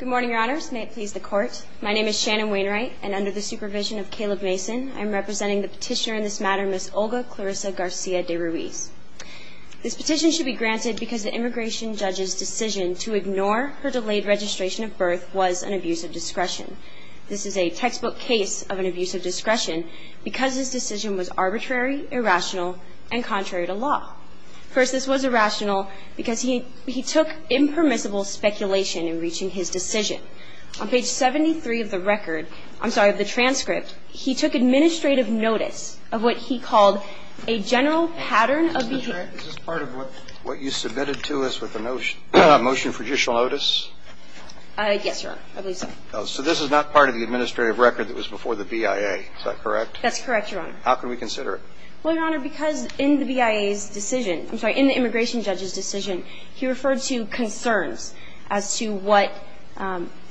Good morning, your honors. May it please the court. My name is Shannon Wainwright, and under the supervision of Caleb Mason, I am representing the petitioner in this matter, Ms. Olga Clarissa Garcia De Ruiz. This petition should be granted because the immigration judge's decision to ignore her delayed registration of birth was an abuse of discretion. This is a textbook case of an abuse of discretion because this decision was arbitrary, irrational, and contrary to law. First, this was irrational because he took impermissible speculation in reaching his decision. On page 73 of the record, I'm sorry, of the transcript, he took administrative notice of what he called a general pattern of behavior. Is this part of what you submitted to us with the motion for judicial notice? Yes, your honor. I believe so. So this is not part of the administrative record that was before the BIA. Is that correct? That's correct, your honor. How can we consider it? Well, your honor, because in the BIA's decision, I'm sorry, in the immigration judge's decision, he referred to concerns as to what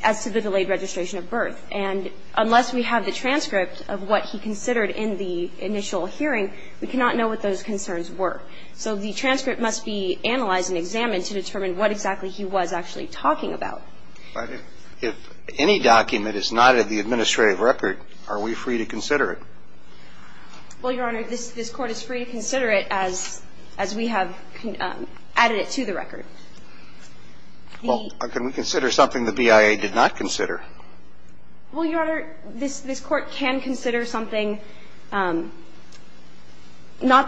as to the delayed registration of birth. And unless we have the transcript of what he considered in the initial hearing, we cannot know what those concerns were. So the transcript must be analyzed and examined to determine what exactly he was actually talking about. But if any document is not in the administrative record, are we free to consider it? Well, your honor, this Court is free to consider it as we have added it to the record. Well, can we consider something the BIA did not consider? Well, your honor, this Court can consider something, not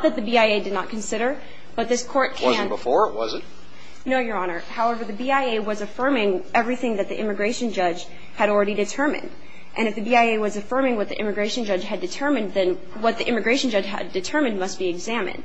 that the BIA did not consider, but this Court can. It wasn't before, was it? No, your honor. However, the BIA was affirming everything that the immigration judge had already determined. And if the BIA was affirming what the immigration judge had determined, then what the immigration judge had determined must be examined.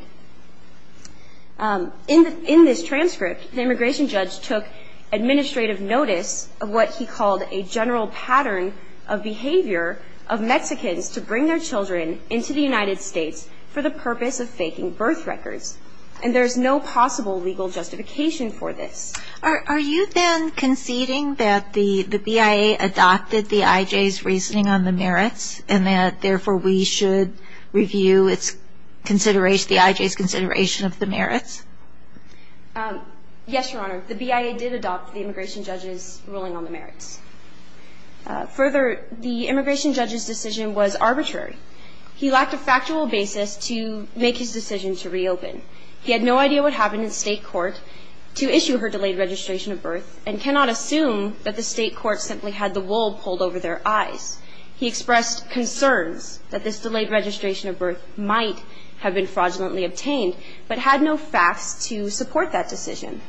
In this transcript, the immigration judge took administrative notice of what he called a general pattern of behavior of Mexicans to bring their children into the United States for the purpose of faking birth records. And there's no possible legal justification for this. Are you then conceding that the BIA adopted the IJ's reasoning on the merits and that therefore we should review the IJ's consideration of the merits? Yes, your honor. The BIA did adopt the immigration judge's ruling on the merits. Further, the immigration judge's decision was arbitrary. He lacked a factual basis to make his decision to reopen. He had no idea what happened in state court to issue her delayed registration of birth and cannot assume that the state court simply had the wool pulled over their eyes. He expressed concerns that this delayed registration of birth might have been fraudulently obtained, but had no facts to support that decision.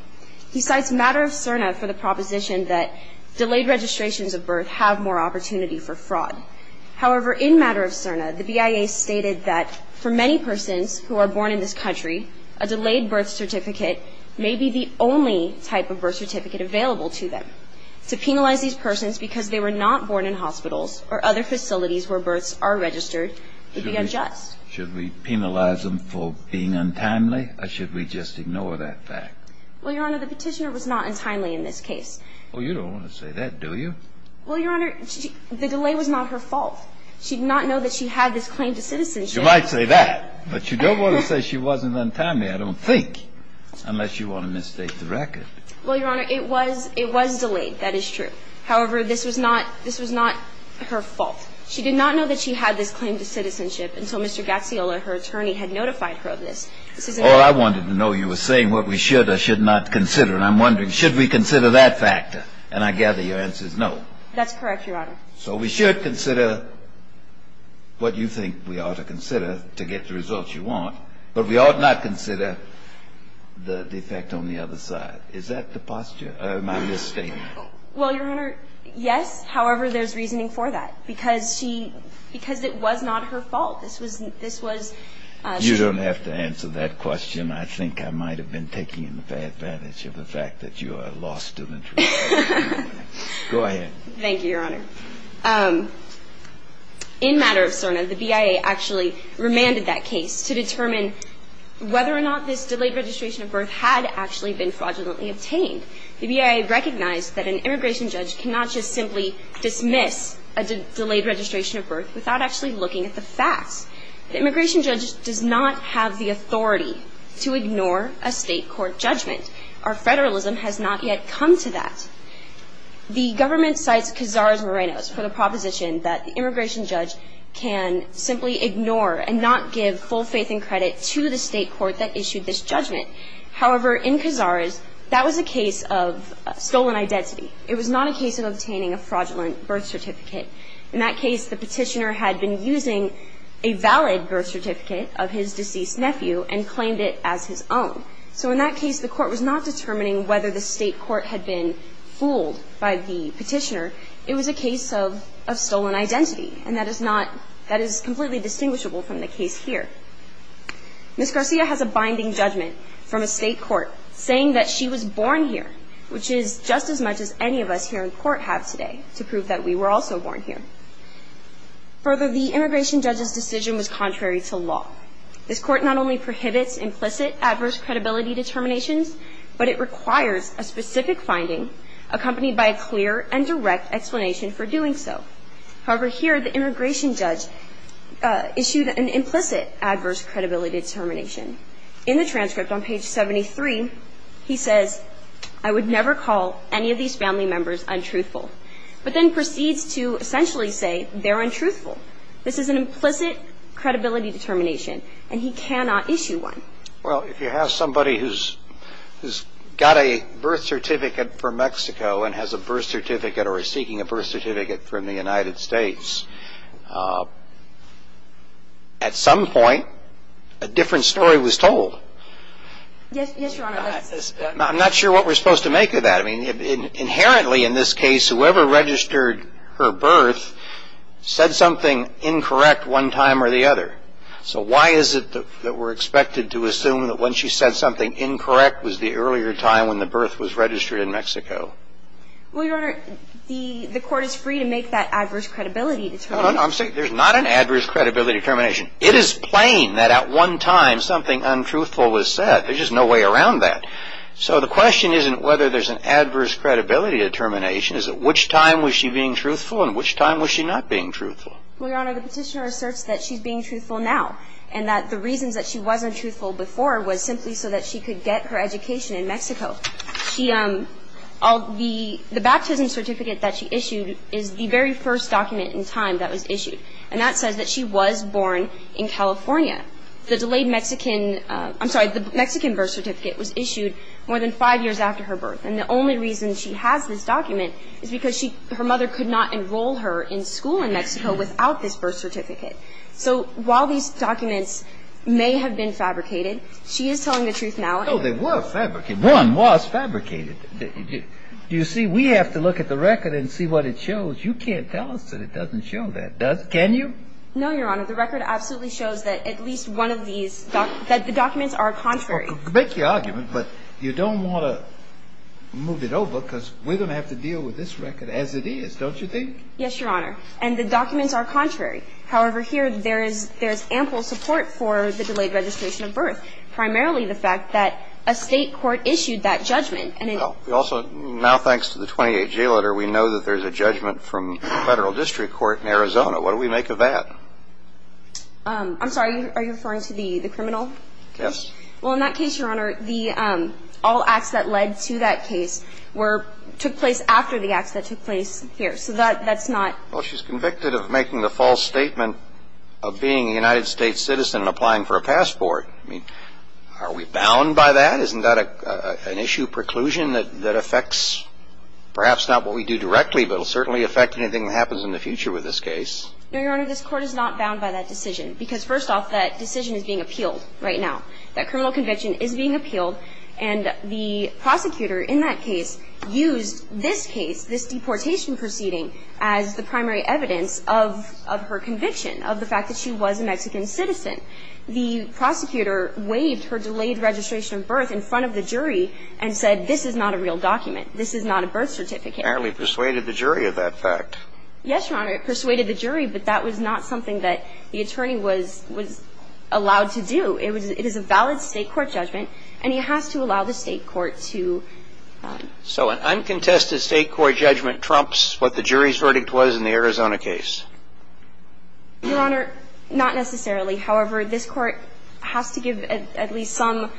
He cites Matter of Cerna for the proposition that delayed registrations of birth have more opportunity for fraud. However, in Matter of Cerna, the BIA stated that for many persons who are born in this country, a delayed birth certificate may be the only type of birth certificate available to them. To penalize these persons because they were not born in hospitals or other facilities where births are registered would be unjust. Should we penalize them for being untimely, or should we just ignore that fact? Well, your honor, the petitioner was not untimely in this case. Oh, you don't want to say that, do you? Well, your honor, the delay was not her fault. She did not know that she had this claim to citizenship. You might say that, but you don't want to say she wasn't untimely, I don't think, unless you want to mistake the record. Well, your honor, it was delayed. That is true. However, this was not her fault. She did not know that she had this claim to citizenship until Mr. Gazziola, her attorney, had notified her of this. Oh, I wanted to know. You were saying what we should or should not consider. And I'm wondering, should we consider that factor? And I gather your answer is no. That's correct, your honor. So we should consider what you think we ought to consider to get the results you want, but we ought not consider the effect on the other side. Is that the posture? Am I misstating? Well, your honor, yes. However, there's reasoning for that, because she – because it was not her fault. This was – this was – You don't have to answer that question. I think I might have been taking advantage of the fact that you are a law student. Go ahead. Thank you, your honor. In matter of CERNA, the BIA actually remanded that case to determine whether or not this delayed registration of birth had actually been fraudulently obtained. The BIA recognized that an immigration judge cannot just simply dismiss a delayed registration of birth without actually looking at the facts. The immigration judge does not have the authority to ignore a state court judgment. Our federalism has not yet come to that. The government cites Cazares-Morenos for the proposition that the immigration judge can simply ignore and not give full faith and credit to the state court that issued this judgment. However, in Cazares, that was a case of stolen identity. It was not a case of obtaining a fraudulent birth certificate. In that case, the petitioner had been using a valid birth certificate of his deceased nephew and claimed it as his own. So in that case, the court was not determining whether the state court had been fooled by the petitioner. It was a case of stolen identity, and that is not – that is completely distinguishable from the case here. Ms. Garcia has a binding judgment from a state court saying that she was born here, which is just as much as any of us here in court have today to prove that we were also born here. Further, the immigration judge's decision was contrary to law. This court not only prohibits implicit adverse credibility determinations, but it requires a specific finding accompanied by a clear and direct explanation for doing so. However, here the immigration judge issued an implicit adverse credibility determination. In the transcript on page 73, he says, I would never call any of these family members untruthful, but then proceeds to essentially say they're untruthful. This is an implicit credibility determination, and he cannot issue one. Well, if you have somebody who's got a birth certificate from Mexico and has a birth certificate or is seeking a birth certificate from the United States, at some point a different story was told. Yes, Your Honor. I'm not sure what we're supposed to make of that. I mean, inherently in this case, whoever registered her birth said something incorrect one time or the other. So why is it that we're expected to assume that when she said something incorrect was the earlier time when the birth was registered in Mexico? No, no, no. I'm saying there's not an adverse credibility determination. It is plain that at one time something untruthful was said. There's just no way around that. So the question isn't whether there's an adverse credibility determination. It's at which time was she being truthful and which time was she not being truthful. Well, Your Honor, the Petitioner asserts that she's being truthful now and that the reasons that she wasn't truthful before was simply so that she could get her education in Mexico. The baptism certificate that she issued is the very first document in time that was issued. And that says that she was born in California. The delayed Mexican birth certificate was issued more than five years after her birth. And the only reason she has this document is because her mother could not enroll her in school in Mexico without this birth certificate. So while these documents may have been fabricated, she is telling the truth now. No, they were fabricated. One was fabricated. Do you see, we have to look at the record and see what it shows. You can't tell us that it doesn't show that. Can you? No, Your Honor. The record absolutely shows that at least one of these, that the documents are contrary. I could make the argument, but you don't want to move it over because we're going to have to deal with this record as it is, don't you think? Yes, Your Honor. However, here there is ample support for the delayed registration of birth, primarily the fact that a State court issued that judgment. Well, we also, now thanks to the 28-G letter, we know that there's a judgment from the Federal District Court in Arizona. What do we make of that? I'm sorry. Are you referring to the criminal case? Yes. Well, in that case, Your Honor, all acts that led to that case were, took place after the acts that took place here. So that's not. Well, she's convicted of making the false statement of being a United States citizen and applying for a passport. I mean, are we bound by that? Isn't that an issue preclusion that affects perhaps not what we do directly, but it will certainly affect anything that happens in the future with this case? No, Your Honor. This Court is not bound by that decision because, first off, that decision is being appealed right now. That criminal conviction is being appealed. And the prosecutor in that case used this case, this deportation proceeding, as the primary evidence of her conviction, of the fact that she was a Mexican citizen. The prosecutor waived her delayed registration of birth in front of the jury and said, this is not a real document. This is not a birth certificate. Apparently persuaded the jury of that fact. Yes, Your Honor. It persuaded the jury, but that was not something that the attorney was allowed to do. It is a valid State court judgment, and he has to allow the State court to. So an uncontested State court judgment trumps what the jury's verdict was in the Arizona case? Your Honor, not necessarily. However, this Court has to give at least some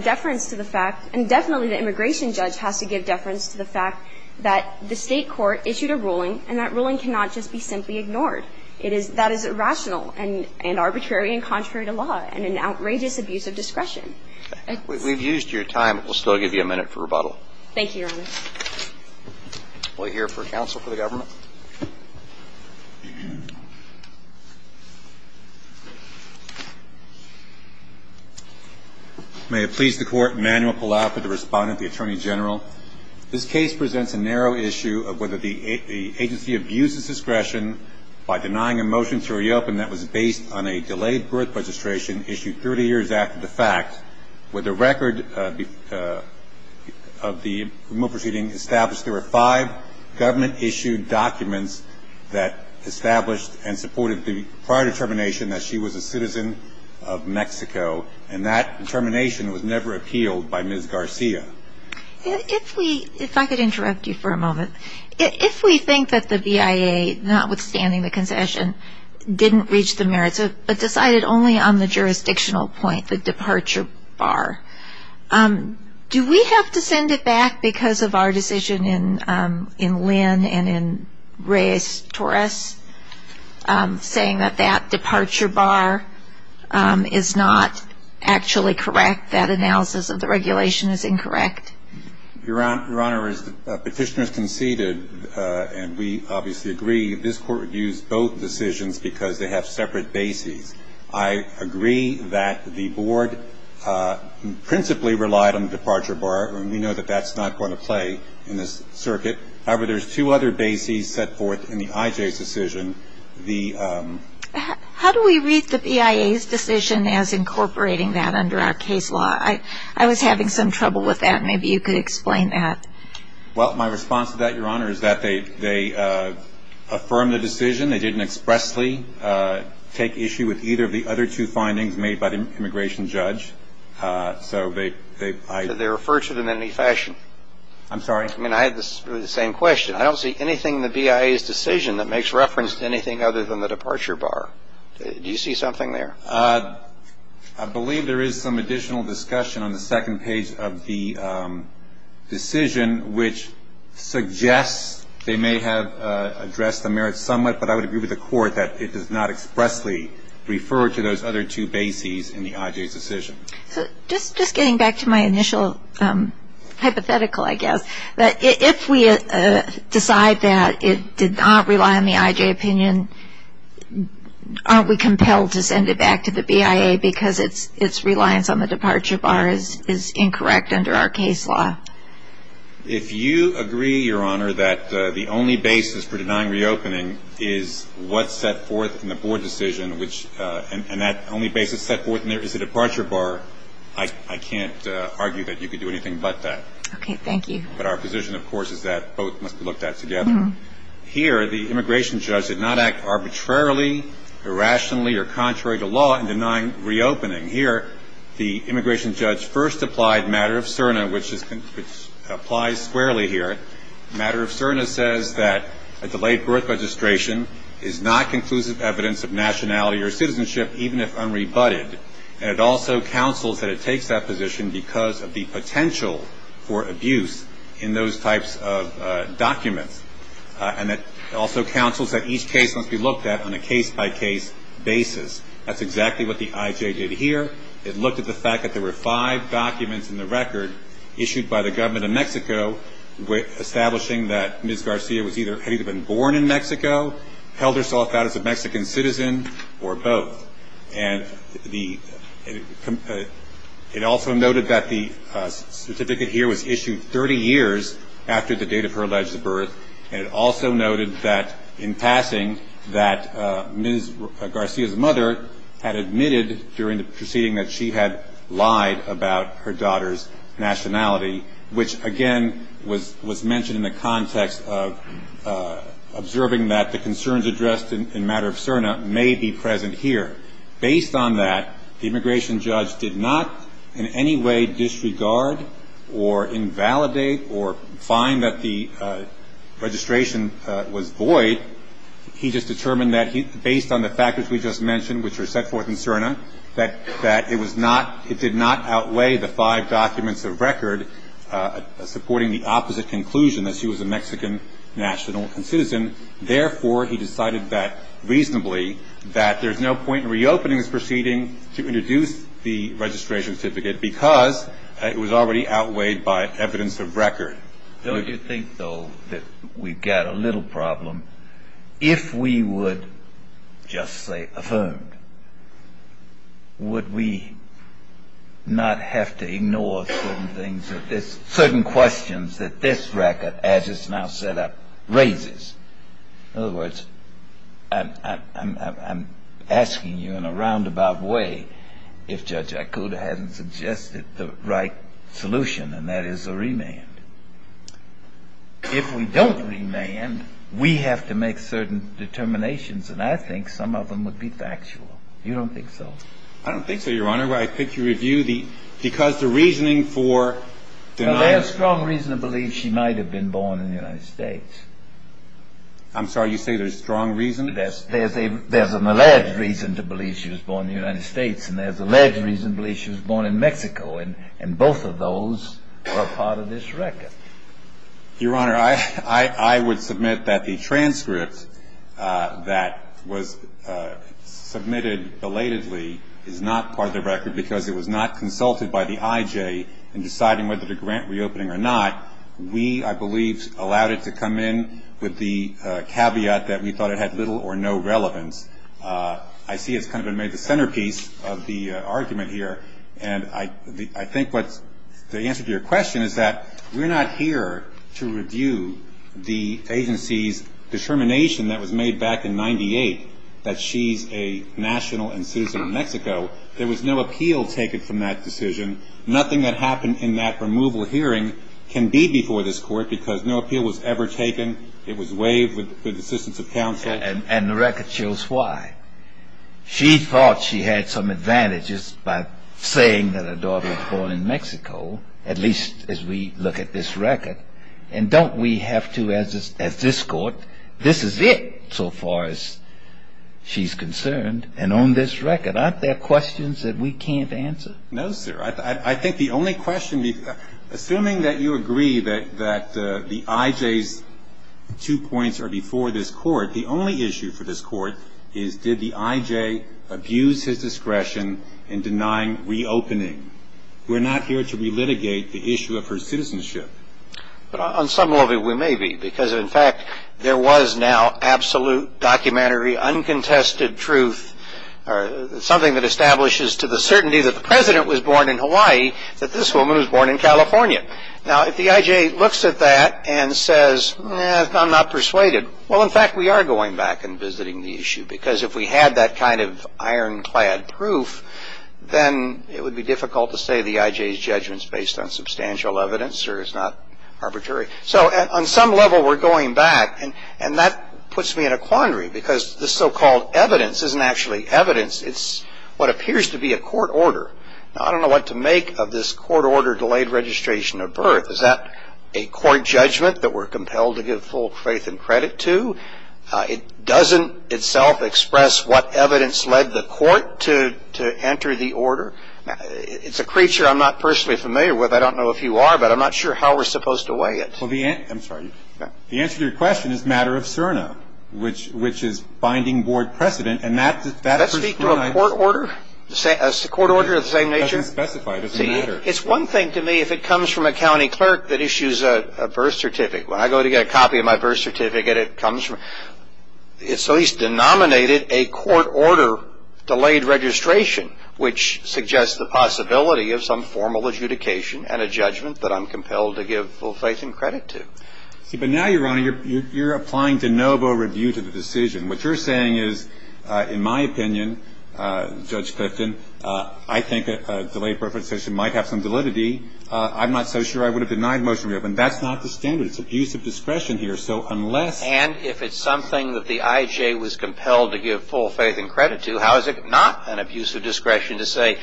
deference to the fact, and definitely the immigration judge has to give deference to the fact that the State court issued a ruling, and that ruling cannot just be simply ignored. That is irrational and arbitrary and contrary to law and an outrageous abuse of discretion. We've used your time. We'll still give you a minute for rebuttal. Thank you, Your Honor. We'll hear for counsel for the government. May it please the Court, Emmanuel Palau for the Respondent, the Attorney General. This case presents a narrow issue of whether the agency abuses discretion by denying a motion to reopen that was based on a delayed birth registration issued 30 years after the fact, where the record of the remote proceeding established there were five documents that established and supported the prior determination that she was a citizen of Mexico, and that determination was never appealed by Ms. Garcia. If I could interrupt you for a moment. If we think that the BIA, notwithstanding the concession, didn't reach the merits, but decided only on the jurisdictional point, the departure bar, do we have to send it back because of our decision in Lynn and in Reyes-Torres saying that that departure bar is not actually correct, that analysis of the regulation is incorrect? Your Honor, as Petitioner has conceded, and we obviously agree, this Court would use both decisions because they have separate bases. I agree that the Board principally relied on the departure bar, and we know that that's not going to play in this circuit. However, there's two other bases set forth in the IJ's decision. How do we read the BIA's decision as incorporating that under our case law? I was having some trouble with that. Maybe you could explain that. Well, my response to that, Your Honor, is that they affirmed the decision. They didn't expressly take issue with either of the other two findings made by the immigration judge. So they refer to them in any fashion. I'm sorry? I mean, I had the same question. I don't see anything in the BIA's decision that makes reference to anything other than the departure bar. Do you see something there? I believe there is some additional discussion on the second page of the decision, which suggests they may have addressed the merits somewhat, but I would agree with the Court that it does not expressly refer to those other two bases in the IJ's decision. Just getting back to my initial hypothetical, I guess, if we decide that it did not rely on the IJ opinion, aren't we compelled to send it back to the BIA because its reliance on the departure bar is incorrect under our case law? If you agree, Your Honor, that the only basis for denying reopening is what's set forth in the board decision, and that only basis set forth in there is the departure bar, I can't argue that you could do anything but that. Okay. Thank you. But our position, of course, is that both must be looked at together. Here, the immigration judge did not act arbitrarily, irrationally, or contrary to law in denying reopening. Here, the immigration judge first applied matter of CERNA, which applies squarely here. Matter of CERNA says that a delayed birth registration is not conclusive evidence of nationality or citizenship, even if unrebutted. And it also counsels that it takes that position because of the potential for abuse in those types of documents. And it also counsels that each case must be looked at on a case-by-case basis. That's exactly what the IJ did here. It looked at the fact that there were five documents in the record issued by the government of Mexico establishing that Ms. Garcia had either been born in Mexico, held herself out as a Mexican citizen, or both. And it also noted that the certificate here was issued 30 years after the date of her alleged birth. And it also noted that, in passing, that Ms. Garcia's mother had admitted during the proceeding that she had lied about her daughter's nationality, which, again, was mentioned in the context of observing that the concerns addressed in matter of CERNA may be present here. Based on that, the immigration judge did not in any way disregard or invalidate or find that the registration was void. He just determined that based on the factors we just mentioned, which were set forth in CERNA, that it did not outweigh the five documents of record supporting the opposite conclusion, that she was a Mexican national and citizen. Therefore, he decided that, reasonably, that there's no point in reopening this proceeding to introduce the registration certificate because it was already outweighed by evidence of record. Don't you think, though, that we've got a little problem? If we would just say affirmed, would we not have to ignore certain things, certain questions that this record, as it's now set up, raises? In other words, I'm asking you in a roundabout way if Judge Ikuda hasn't suggested the right solution, and that is a remand. If we don't remand, we have to make certain determinations, and I think some of them would be factual. You don't think so? I don't think so, Your Honor. I think you review the – because the reasoning for denying – There's a strong reason to believe she might have been born in the United States. I'm sorry, you say there's strong reason? There's an alleged reason to believe she was born in the United States, and there's an alleged reason to believe she was born in Mexico, and both of those are part of this record. Your Honor, I would submit that the transcript that was submitted belatedly is not part of the record because it was not consulted by the IJ in deciding whether to grant reopening or not. We, I believe, allowed it to come in with the caveat that we thought it had little or no relevance. I see it's kind of been made the centerpiece of the argument here, and I think what's the answer to your question is that we're not here to review the agency's determination that was made back in 98 No, there was no appeal taken from that decision. Nothing that happened in that removal hearing can be before this court because no appeal was ever taken. It was waived with the assistance of counsel. And the record shows why. She thought she had some advantages by saying that her daughter was born in Mexico, at least as we look at this record, and don't we have to, as this court, this is it so far as she's concerned. And on this record, aren't there questions that we can't answer? No, sir. I think the only question, assuming that you agree that the IJ's two points are before this court, the only issue for this court is did the IJ abuse his discretion in denying reopening. We're not here to relitigate the issue of her citizenship. On some level, we may be because, in fact, there was now absolute documentary uncontested truth, something that establishes to the certainty that the president was born in Hawaii, that this woman was born in California. Now, if the IJ looks at that and says, I'm not persuaded, well, in fact, we are going back and visiting the issue because if we had that kind of ironclad proof, then it would be difficult to say the IJ's judgment is based on substantial evidence or is not arbitrary. So on some level, we're going back, and that puts me in a quandary because this so-called evidence isn't actually evidence. It's what appears to be a court order. Now, I don't know what to make of this court order delayed registration of birth. Is that a court judgment that we're compelled to give full faith and credit to? It doesn't itself express what evidence led the court to enter the order. It's a creature I'm not personally familiar with. I don't know if you are, but I'm not sure how we're supposed to weigh it. I'm sorry. The answer to your question is a matter of CERNA, which is binding board precedent. Does that speak to a court order of the same nature? It doesn't specify. It doesn't matter. It's one thing to me if it comes from a county clerk that issues a birth certificate. When I go to get a copy of my birth certificate, it comes from – so he's denominated a court order delayed registration, which suggests the possibility of some formal adjudication and a judgment that I'm compelled to give full faith and credit to. But now, Your Honor, you're applying de novo review to the decision. What you're saying is, in my opinion, Judge Clifton, I think a delayed birth registration might have some validity. I'm not so sure I would have denied motion to reopen. That's not the standard. It's abuse of discretion here. So unless – And if it's something that the IJ was compelled to give full faith and credit to, how is it not an abuse of discretion to say,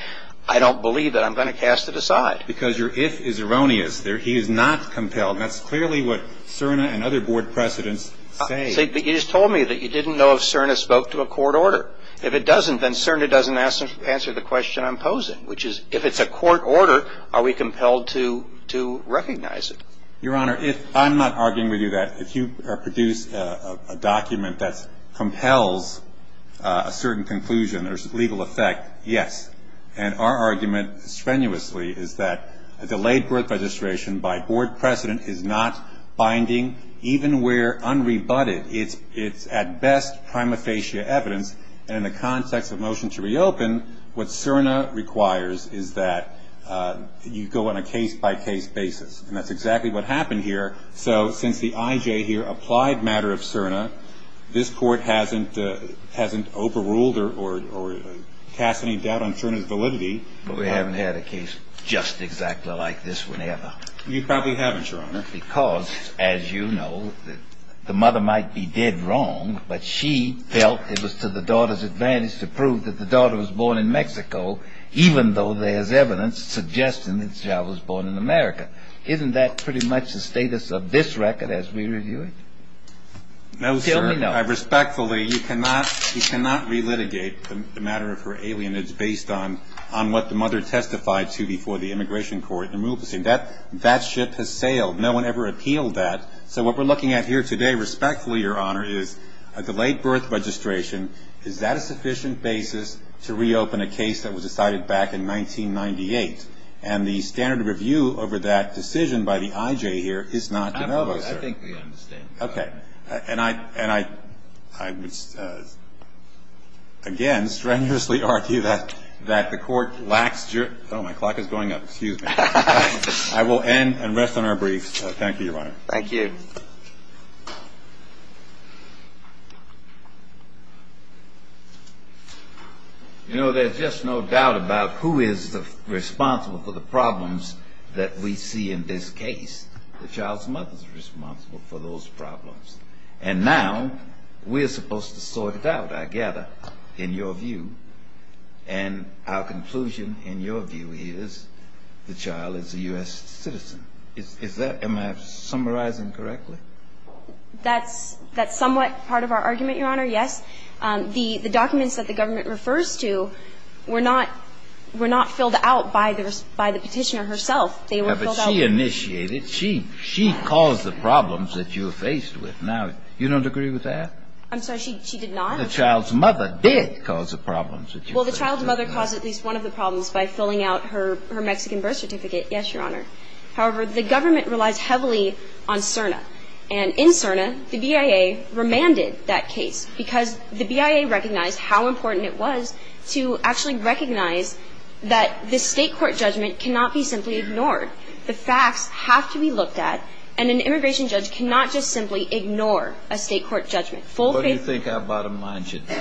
I don't believe it, I'm going to cast it aside? Because your if is erroneous. He is not compelled. That's clearly what CERNA and other board precedents say. But you just told me that you didn't know if CERNA spoke to a court order. If it doesn't, then CERNA doesn't answer the question I'm posing, which is, if it's a court order, are we compelled to recognize it? Your Honor, I'm not arguing with you that. If you produce a document that compels a certain conclusion or legal effect, yes. And our argument strenuously is that a delayed birth registration by board precedent is not binding, even where unrebutted. It's at best prima facie evidence. And in the context of motion to reopen, what CERNA requires is that you go on a case-by-case basis. And that's exactly what happened here. So since the IJ here applied matter of CERNA, this Court hasn't overruled or cast any doubt on CERNA's validity. But we haven't had a case just exactly like this one ever. You probably haven't, Your Honor. Because, as you know, the mother might be dead wrong, but she felt it was to the daughter's advantage to prove that the daughter was born in Mexico, even though there's evidence suggesting that the child was born in America. Isn't that pretty much the status of this record as we review it? No, sir. Tell me no. Respectfully, you cannot relitigate the matter of her alienage based on what the mother testified to before the Immigration Court. That ship has sailed. No one ever appealed that. So what we're looking at here today, respectfully, Your Honor, is a delayed birth registration. Is that a sufficient basis to reopen a case that was decided back in 1998? And the standard of review over that decision by the IJ here is not to know, sir. I think we understand. Okay. And I would, again, strenuously argue that the Court lacks jurisdiction. Oh, my clock is going up. Excuse me. I will end and rest on our briefs. Thank you, Your Honor. Thank you. You know, there's just no doubt about who is responsible for the problems that we see in this case. The child's mother is responsible for those problems. And now we're supposed to sort it out, I gather, in your view. And our conclusion, in your view, is the child is a U.S. citizen. Is that my summarizing correctly? That's somewhat part of our argument, Your Honor, yes. The documents that the government refers to were not filled out by the Petitioner herself. They were filled out. But she initiated. She caused the problems that you're faced with. Now, you don't agree with that? I'm sorry. She did not? The child's mother did cause the problems that you're facing. Well, the child's mother caused at least one of the problems by filling out her Mexican birth certificate. Yes, Your Honor. However, the government relies heavily on CERNA. And in CERNA, the BIA remanded that case because the BIA recognized how important it was to actually recognize that the state court judgment cannot be simply ignored. The facts have to be looked at. And an immigration judge cannot just simply ignore a state court judgment. What do you think our bottom line should be?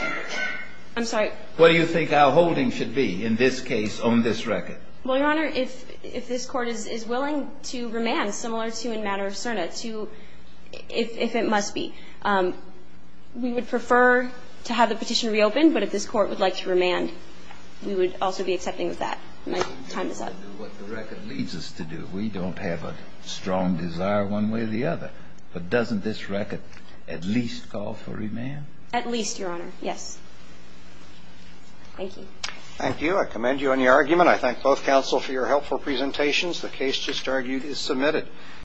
I'm sorry? What do you think our holding should be in this case on this record? Well, Your Honor, if this Court is willing to remand, similar to in matter of CERNA, to if it must be. We would prefer to have the petition reopened. But if this Court would like to remand, we would also be accepting of that. My time is up. We do what the record leads us to do. We don't have a strong desire one way or the other. But doesn't this record at least call for remand? At least, Your Honor. Yes. Thank you. Thank you. I commend you on your argument. I thank both counsel for your helpful presentations. The case just argued is submitted.